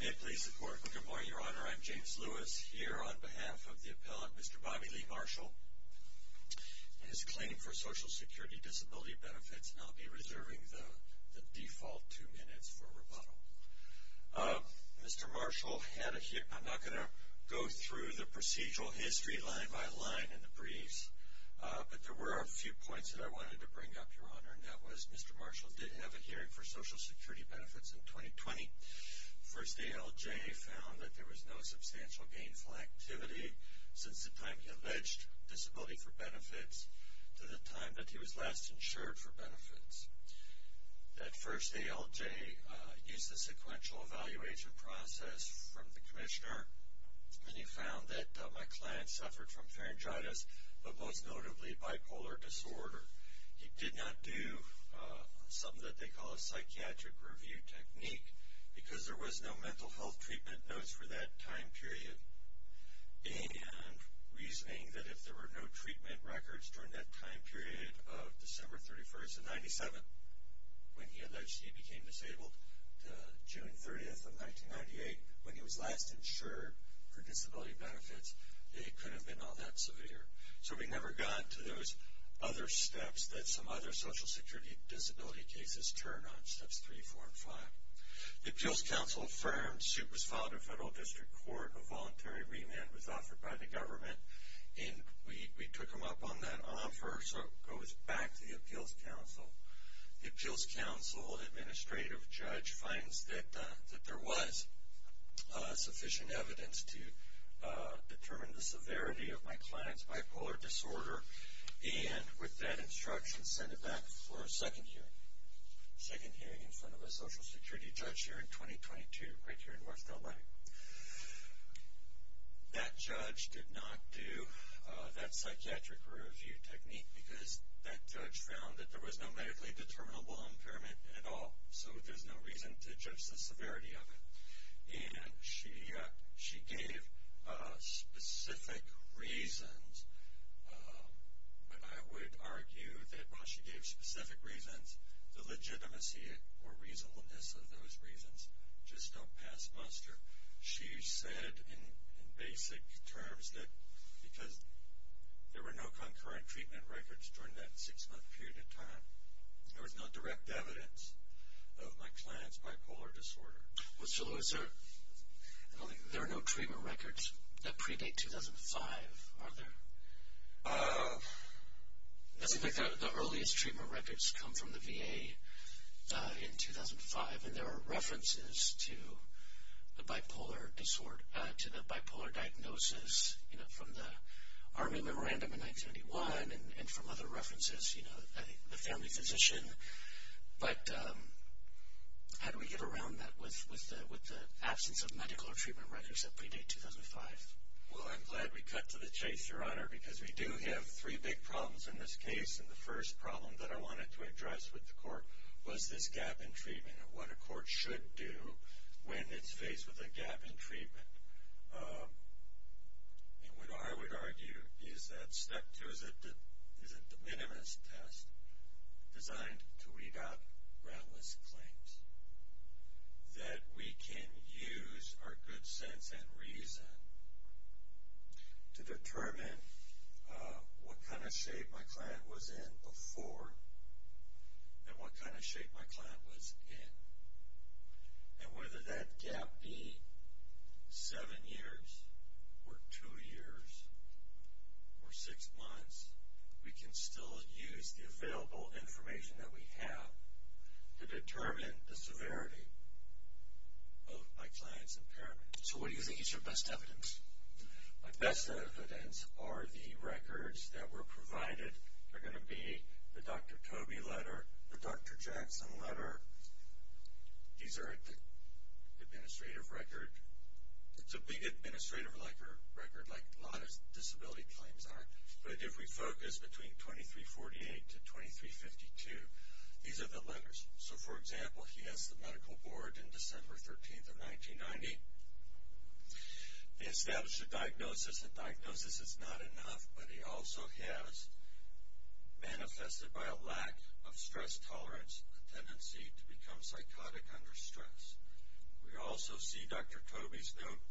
May it please the Court. Good morning, Your Honor. I'm James Lewis. Here on behalf of the appellant, Mr. Bobby Lee Marshall, in his claim for Social Security Disability benefits, and I'll be reserving the default two minutes for rebuttal. Mr. Marshall had a, I'm not going to go through the procedural history line by line in the briefs, but there were a few points that I wanted to bring up, Your Honor, and that was Mr. Marshall did have a hearing for Social Security benefits in 2020. First ALJ found that there was no substantial gainful activity since the time he alleged disability for benefits to the time that he was last insured for benefits. That first ALJ used the sequential evaluation process from the commissioner, and he found that my client suffered from pharyngitis, but most notably bipolar disorder. He did not do something that they call a psychiatric review technique because there was no mental health treatment notes for that time period. And reasoning that if there were no treatment records during that time period of December 31st of 97, when he alleged he became disabled, to June 30th of 1998, when he was last insured for disability benefits, it could have been all that severe. So we never got to those other steps that some other Social Security disability cases turn on, steps 3, 4, and 5. The Appeals Council affirmed, suit was filed in Federal District Court, a voluntary remand was offered by the government, and we took him up on that offer, so it goes back to the Appeals Council. The Appeals Council administrative judge finds that there was sufficient evidence to determine the severity of my client's bipolar disorder, and with that instruction, sent him back for a second hearing. Second hearing in front of a Social Security judge here in 2022, right here in North Carolina. That judge did not do that psychiatric review technique because that judge found that there was no medically determinable impairment at all, so there's no reason to judge the severity of it. And she gave specific reasons, but I would argue that while she gave specific reasons, the legitimacy or reasonableness of those reasons just don't pass muster. She said in basic terms that because there were no concurrent treatment records during that six month period of time, there was no direct evidence of my client's bipolar disorder. Mr. Lewis, there are no treatment records that predate 2005, are there? It doesn't look like the earliest treatment records come from the VA in 2005, and there are references to the bipolar diagnosis from the Army Memorandum in 1991 and from other references, you know, the family physician, but how do we get around that with the absence of medical or treatment records that predate 2005? Well, I'm glad we cut to the chase, Your Honor, because we do have three big problems in this case, and the first problem that I wanted to address with the court was this gap in treatment and what a court should do when it's faced with a gap in treatment. And what I would argue is that step two is a de minimis test designed to weed out groundless claims, that we can use our good sense and reason to determine what kind of shape my client was in before and what kind of shape my client was in. And whether that gap be seven years or two years or six months, we can still use the available information that we have to determine the severity of my client's impairment. So what do you think is your best evidence? My best evidence are the records that were provided. They're going to be the Dr. Toby letter, the Dr. Jackson letter. These are the administrative record. It's a big administrative record like a lot of disability claims are, but if we focus between 2348 to 2352, these are the letters. So, for example, he has the medical board in December 13th of 1990. They established a diagnosis. The diagnosis is not enough, but he also has manifested by a lack of stress tolerance, a tendency to become psychotic under stress. We also see Dr. Toby's note,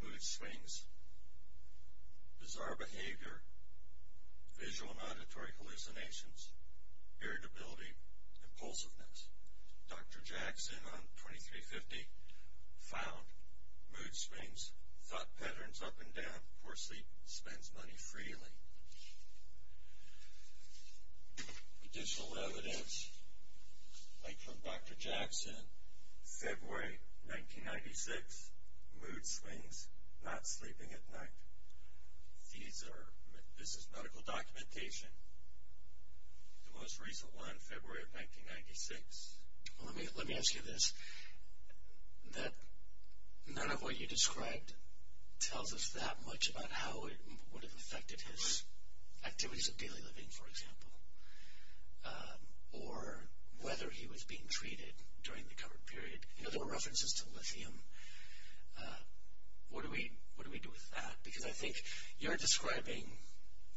mood swings, bizarre behavior, visual and auditory hallucinations, irritability, impulsiveness. Dr. Jackson on 2350 found mood swings, thought patterns up and down, poor sleep, spends money freely. Additional evidence, like from Dr. Jackson, February 1996, mood swings, not sleeping at night. This is medical documentation. The most recent one, February of 1996. Let me ask you this. None of what you described tells us that much about how it would have affected his activities of daily living, for example, or whether he was being treated during the covered period. There were references to lithium. What do we do with that? Because I think you're describing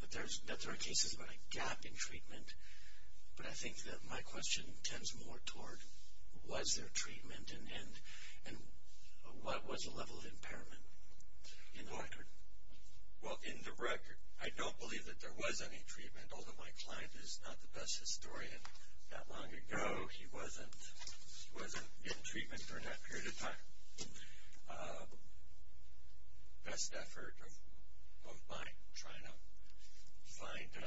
that there are cases about a gap in treatment, but I think that my question tends more toward was there treatment and what was the level of impairment in the record? Well, in the record, I don't believe that there was any treatment, although my client is not the best historian. That long ago, he wasn't in treatment during that period of time. That's the best effort of mine, trying to find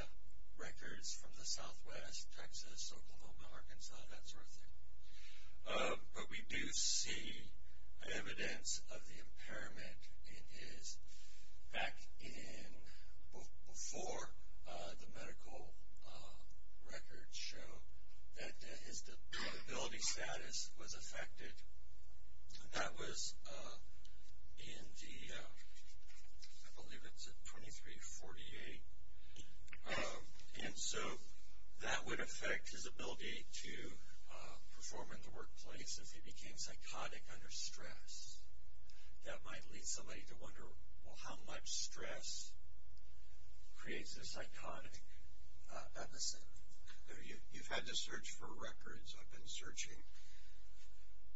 records from the southwest, Texas, Oklahoma, Arkansas, that sort of thing. But we do see evidence of the impairment in his back in before the medical records show that his disability status was affected. That was in the, I believe it's at 2348. And so that would affect his ability to perform in the workplace if he became psychotic under stress. That might lead somebody to wonder, well, how much stress creates a psychotic episode? You've had to search for records. I've been searching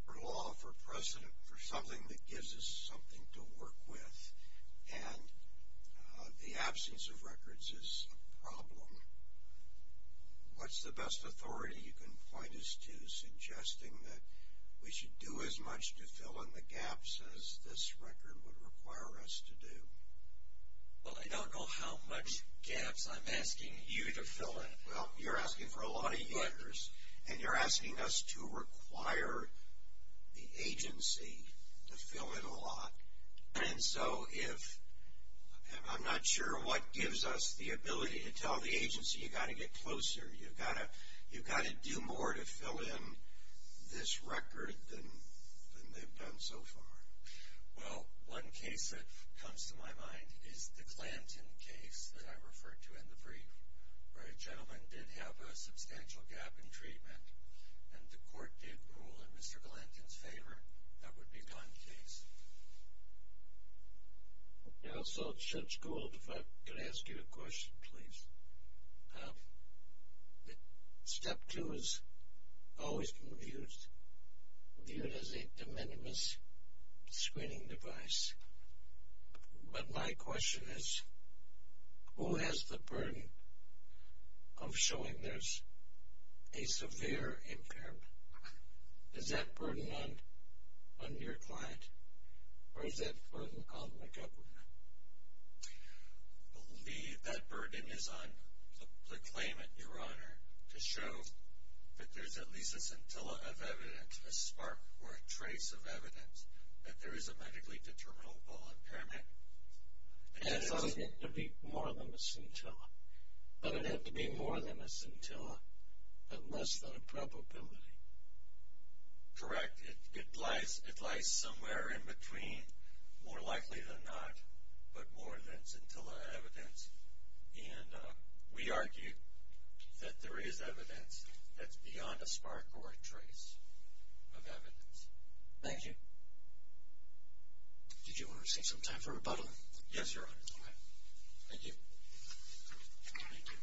for law, for precedent, for something that gives us something to work with. And the absence of records is a problem. What's the best authority you can point us to suggesting that we should do as much to fill in the gaps as this record would require us to do? Well, I don't know how much gaps I'm asking you to fill in. Well, you're asking for a lot of years, and you're asking us to require the agency to fill in a lot. And so if, I'm not sure what gives us the ability to tell the agency, you've got to get closer. You've got to do more to fill in this record than they've done so far. Well, one case that comes to my mind is the Glanton case that I referred to in the brief, where a gentleman did have a substantial gap in treatment, and the court did rule in Mr. Glanton's favor that would be gone, please. Yeah, so, Judge Gould, if I could ask you a question, please. Step two has always been viewed as a de minimis screening device. But my question is, who has the burden of showing there's a severe impairment? Is that burden on your client, or is that burden on the governor? I believe that burden is on the claimant, Your Honor, to show that there's at least a scintilla of evidence, a spark or a trace of evidence that there is a medically determinable impairment. And it doesn't have to be more than a scintilla, but it'd have to be more than a scintilla, but less than a probability. Correct. It lies somewhere in between, more likely than not, but more than scintilla evidence. And we argue that there is evidence that's beyond a spark or a trace of evidence. Thank you. Did you want to save some time for rebuttal? Yes, Your Honor. Thank you. Thank you.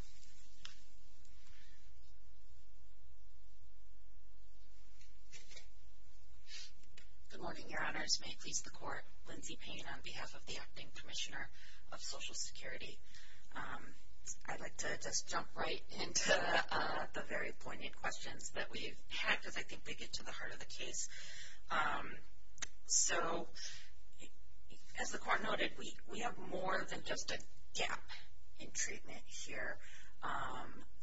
Good morning, Your Honors. May it please the Court, Lindsay Payne on behalf of the Acting Commissioner of Social Security. I'd like to just jump right into the very poignant questions that we've had, because I think they get to the heart of the case. So, as the Court noted, we have more than just a gap in treatment here.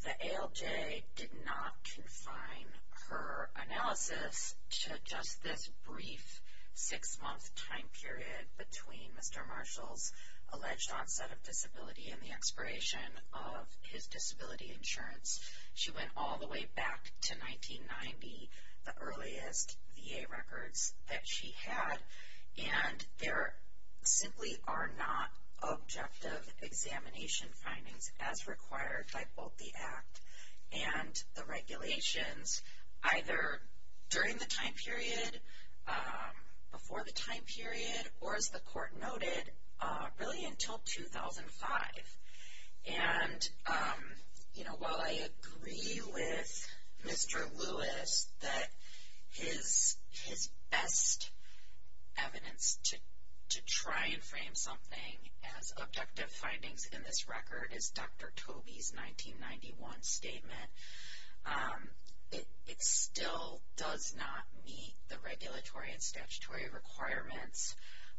The ALJ did not confine her analysis to just this brief six-month time period between Mr. Marshall's alleged onset of disability and the expiration of his disability insurance. She went all the way back to 1990, the earliest VA records that she had, and there simply are not objective examination findings as required by both the Act and the regulations, either during the time period, before the time period, or, as the Court noted, really until 2005. And, you know, while I agree with Mr. Lewis that his best evidence to try and frame something as objective findings in this record is Dr. Tobey's 1991 statement, it still does not meet the regulatory and statutory requirements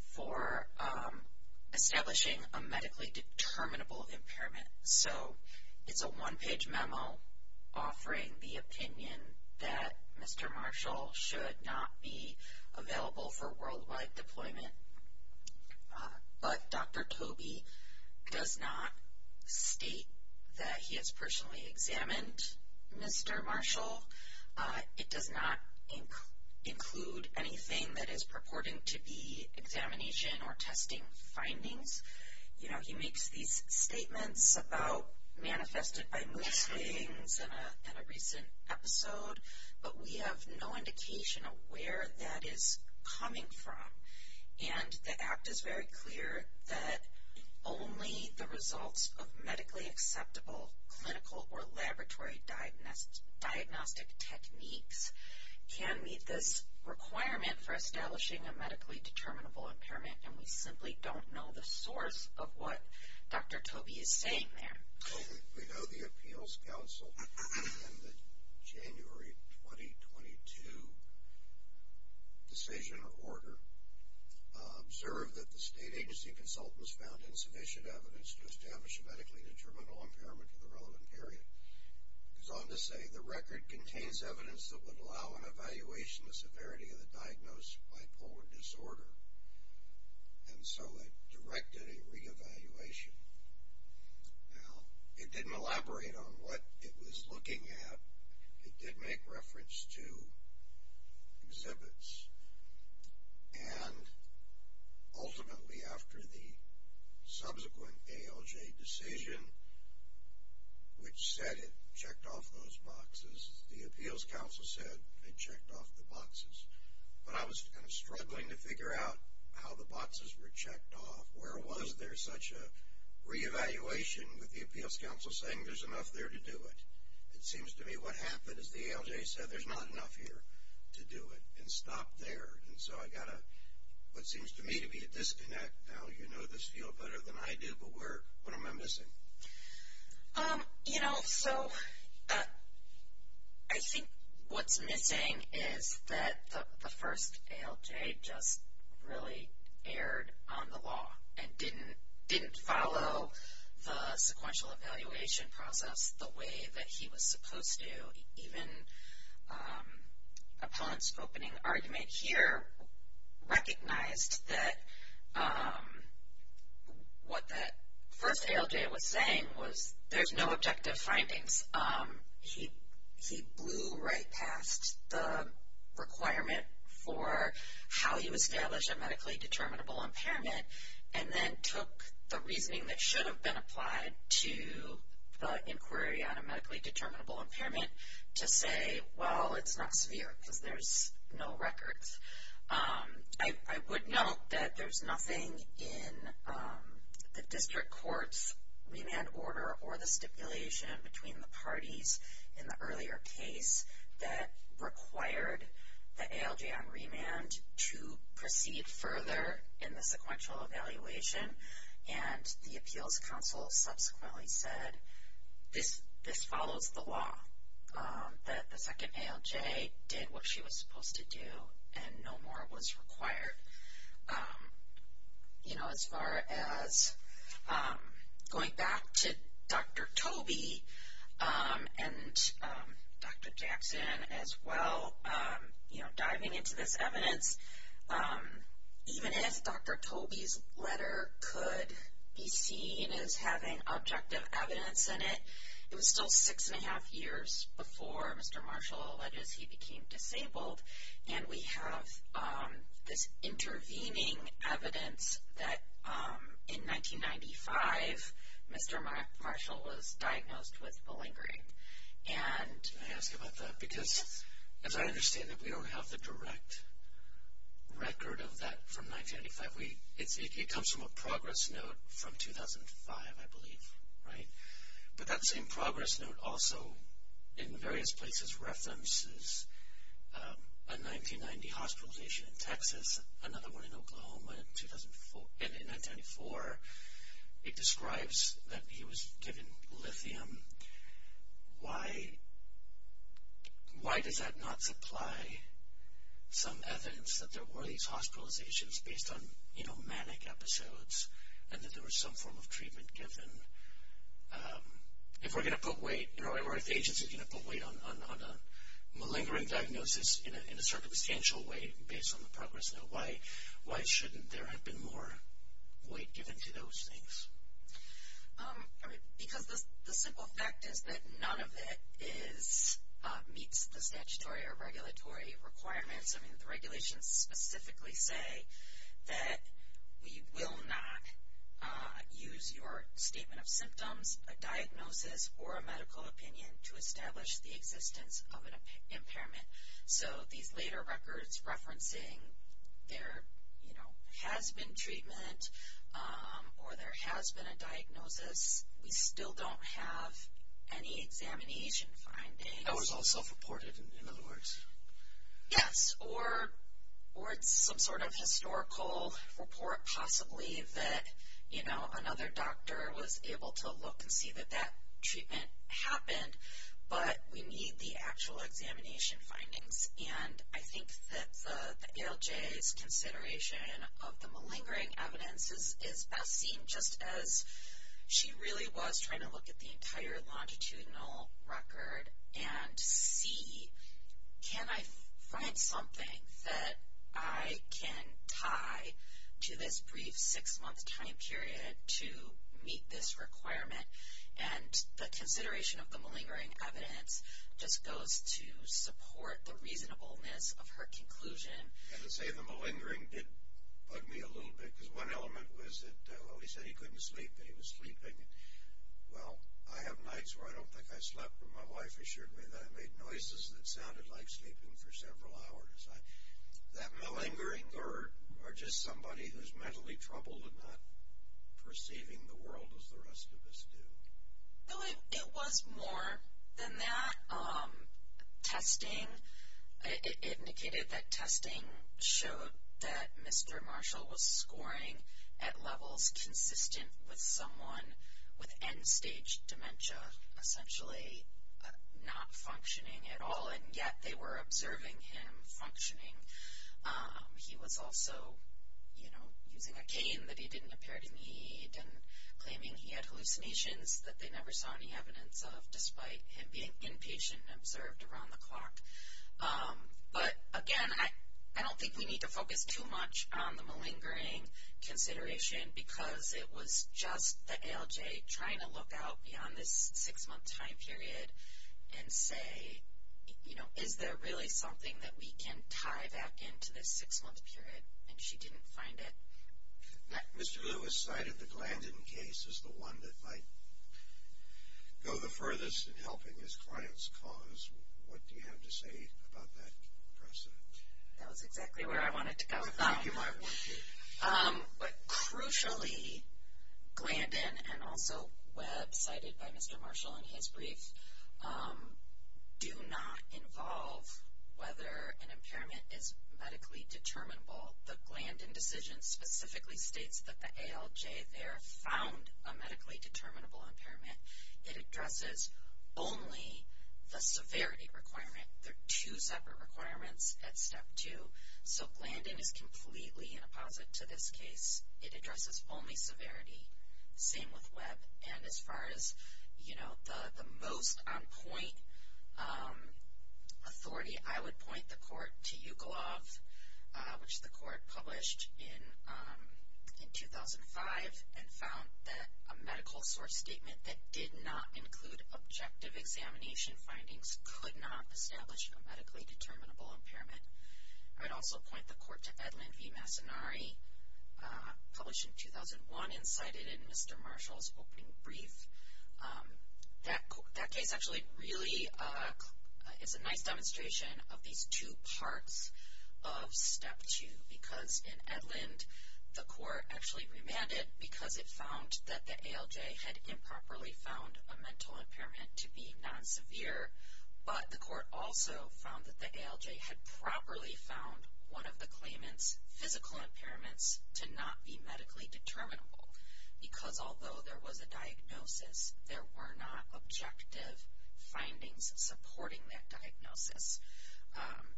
for establishing a medically determinable impairment. So, it's a one-page memo offering the opinion that Mr. Marshall should not be available for worldwide deployment. But Dr. Tobey does not state that he has personally examined Mr. Marshall. It does not include anything that is purporting to be examination or testing findings. You know, he makes these statements about manifested by mood swings in a recent episode, but we have no indication of where that is coming from. And the Act is very clear that only the results of medically acceptable clinical or laboratory diagnostic techniques can meet this requirement for establishing a medically determinable impairment, and we simply don't know the source of what Dr. Tobey is saying there. We know the Appeals Council in the January 2022 decision or order observed that the state agency consultants found insufficient evidence to establish a medically determinable impairment in the relevant area. It goes on to say the record contains evidence that would allow an evaluation of the severity of the diagnosed bipolar disorder, and so it directed a reevaluation. Now, it didn't elaborate on what it was looking at. It did make reference to exhibits, and ultimately after the subsequent ALJ decision, which said it checked off those boxes, the Appeals Council said it checked off the boxes, but I was kind of struggling to figure out how the boxes were checked off. Where was there such a reevaluation with the Appeals Council saying there's enough there to do it? It seems to me what happened is the ALJ said there's not enough here to do it and stopped there, and so I got what seems to me to be a disconnect. Now, you know this field better than I do, but what am I missing? You know, so I think what's missing is that the first ALJ just really erred on the law and didn't follow the sequential evaluation process the way that he was supposed to. Even Opponent's opening argument here recognized that what that first ALJ was saying was there's no objective findings. He blew right past the requirement for how you establish a medically determinable impairment and then took the reasoning that should have been applied to the inquiry on a medically determinable impairment to say, well, it's not severe because there's no records. I would note that there's nothing in the district court's remand order or the stipulation between the parties in the earlier case that required the ALJ on remand to proceed further in the sequential evaluation, and the appeals counsel subsequently said, this follows the law, that the second ALJ did what she was supposed to do and no more was required. You know, as far as going back to Dr. Tobey and Dr. Jackson as well, you know, diving into this evidence, even if Dr. Tobey's letter could be seen as having objective evidence in it, it was still six and a half years before Mr. Marshall alleges he became disabled and we have this intervening evidence that in 1995, Mr. Marshall was diagnosed with malingering. Can I ask about that? Because as I understand it, we don't have the direct record of that from 1995. It comes from a progress note from 2005, I believe, right? But that same progress note also in various places references a 1990 hospitalization in Texas, another one in Oklahoma in 1994. It describes that he was given lithium. Why does that not supply some evidence that there were these hospitalizations based on, you know, manic episodes and that there was some form of treatment given? If we're going to put weight, or if the agency's going to put weight on a malingering diagnosis in a circumstantial way based on the progress note, why shouldn't there have been more weight given to those things? Because the simple fact is that none of it meets the statutory or regulatory requirements. I mean, the regulations specifically say that we will not use your statement of symptoms, a diagnosis, or a medical opinion to establish the existence of an impairment. So these later records referencing there has been treatment or there has been a diagnosis, we still don't have any examination findings. That was all self-reported, in other words? Yes, or it's some sort of historical report possibly that, you know, another doctor was able to look and see that that treatment happened, but we need the actual examination findings. And I think that the ALJ's consideration of the malingering evidence is best seen just as she really was trying to look at the entire longitudinal record and see can I find something that I can tie to this brief six-month time period to meet this requirement. And the consideration of the malingering evidence just goes to support the reasonableness of her conclusion. And to say the malingering did bug me a little bit because one element was that he said he couldn't sleep and he was sleeping. Well, I have nights where I don't think I slept, but my wife assured me that I made noises that sounded like sleeping for several hours. That malingering or just somebody who's mentally troubled and not perceiving the world as the rest of us do. No, it was more than that. Testing, it indicated that testing showed that Mr. Marshall was scoring at levels consistent with someone with end-stage dementia, essentially not functioning at all, and yet they were observing him functioning. He was also, you know, using a cane that he didn't appear to need and claiming he had hallucinations that they never saw any evidence of, despite him being inpatient and observed around the clock. But, again, I don't think we need to focus too much on the malingering consideration because it was just the ALJ trying to look out beyond this six-month time period and say, you know, is there really something that we can tie back into this six-month period? And she didn't find it. Mr. Lewis cited the Glandon case as the one that might go the furthest in helping his client's cause. What do you have to say about that precedent? That was exactly where I wanted to go. I think you might want to. But, crucially, Glandon and also Webb, cited by Mr. Marshall in his brief, do not involve whether an impairment is medically determinable. The Glandon decision specifically states that the ALJ there found a medically determinable impairment. It addresses only the severity requirement. They're two separate requirements at step two. So, Glandon is completely inapposite to this case. It addresses only severity. Same with Webb. And as far as, you know, the most on-point authority, I would point the court to Ukolov, which the court published in 2005 and found that a medical source statement that did not include objective examination findings could not establish a medically determinable impairment. I'd also point the court to Edlund v. Massonari, published in 2001 and cited in Mr. Marshall's opening brief. That case actually really is a nice demonstration of these two parts of step two. Because in Edlund, the court actually remanded because it found that the ALJ had improperly found a mental impairment to be non-severe. But the court also found that the ALJ had properly found one of the claimant's physical impairments to not be medically determinable. Because although there was a diagnosis, there were not objective findings supporting that diagnosis.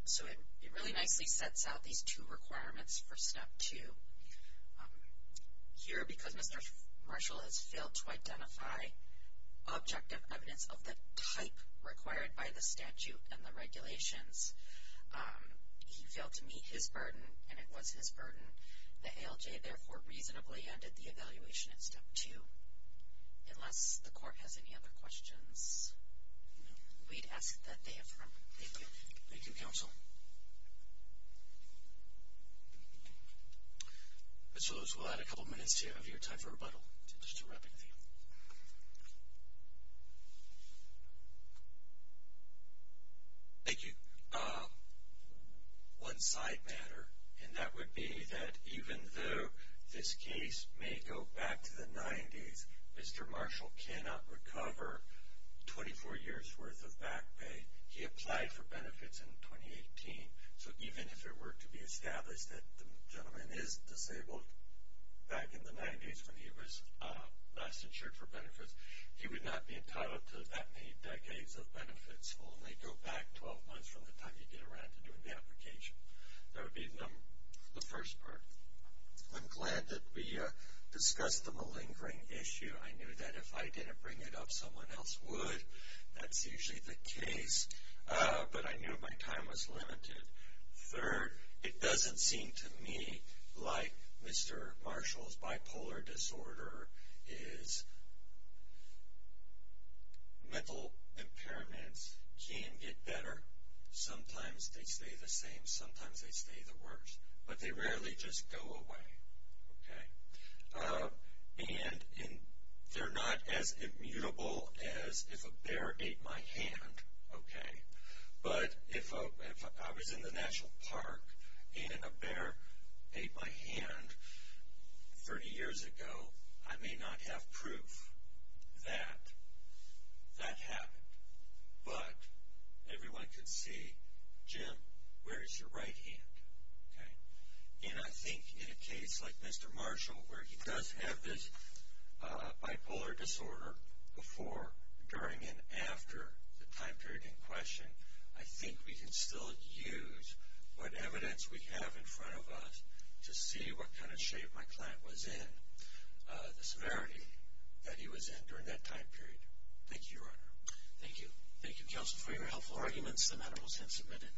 So it really nicely sets out these two requirements for step two. Here, because Mr. Marshall has failed to identify objective evidence of the type required by the statute and the regulations, he failed to meet his burden, and it was his burden. The ALJ, therefore, reasonably ended the evaluation in step two. Unless the court has any other questions, we'd ask that they affirm. Thank you. Thank you, counsel. Mr. Lewis, we'll add a couple minutes to your time for rebuttal. Thank you. One side matter, and that would be that even though this case may go back to the 90s, Mr. Marshall cannot recover 24 years' worth of back pay. He applied for benefits in 2018. So even if it were to be established that the gentleman is disabled back in the 90s when he was last insured for benefits, he would not be entitled to that many decades of benefits. It will only go back 12 months from the time you get around to doing the application. That would be the first part. I'm glad that we discussed the malingering issue. I knew that if I didn't bring it up, someone else would. That's usually the case, but I knew my time was limited. Third, it doesn't seem to me like Mr. Marshall's bipolar disorder, his mental impairments, can get better. Sometimes they stay the same. Sometimes they stay the worst, but they rarely just go away. They're not as immutable as if a bear ate my hand. But if I was in the National Park and a bear ate my hand 30 years ago, I may not have proof that that happened. But everyone could see, Jim, where is your right hand? I think in a case like Mr. Marshall, where he does have this bipolar disorder before, during, and after the time period in question, I think we can still use what evidence we have in front of us to see what kind of shape my client was in, the severity that he was in during that time period. Thank you, Your Honor. Thank you. Thank you, Counsel, for your helpful arguments. The matter was then submitted.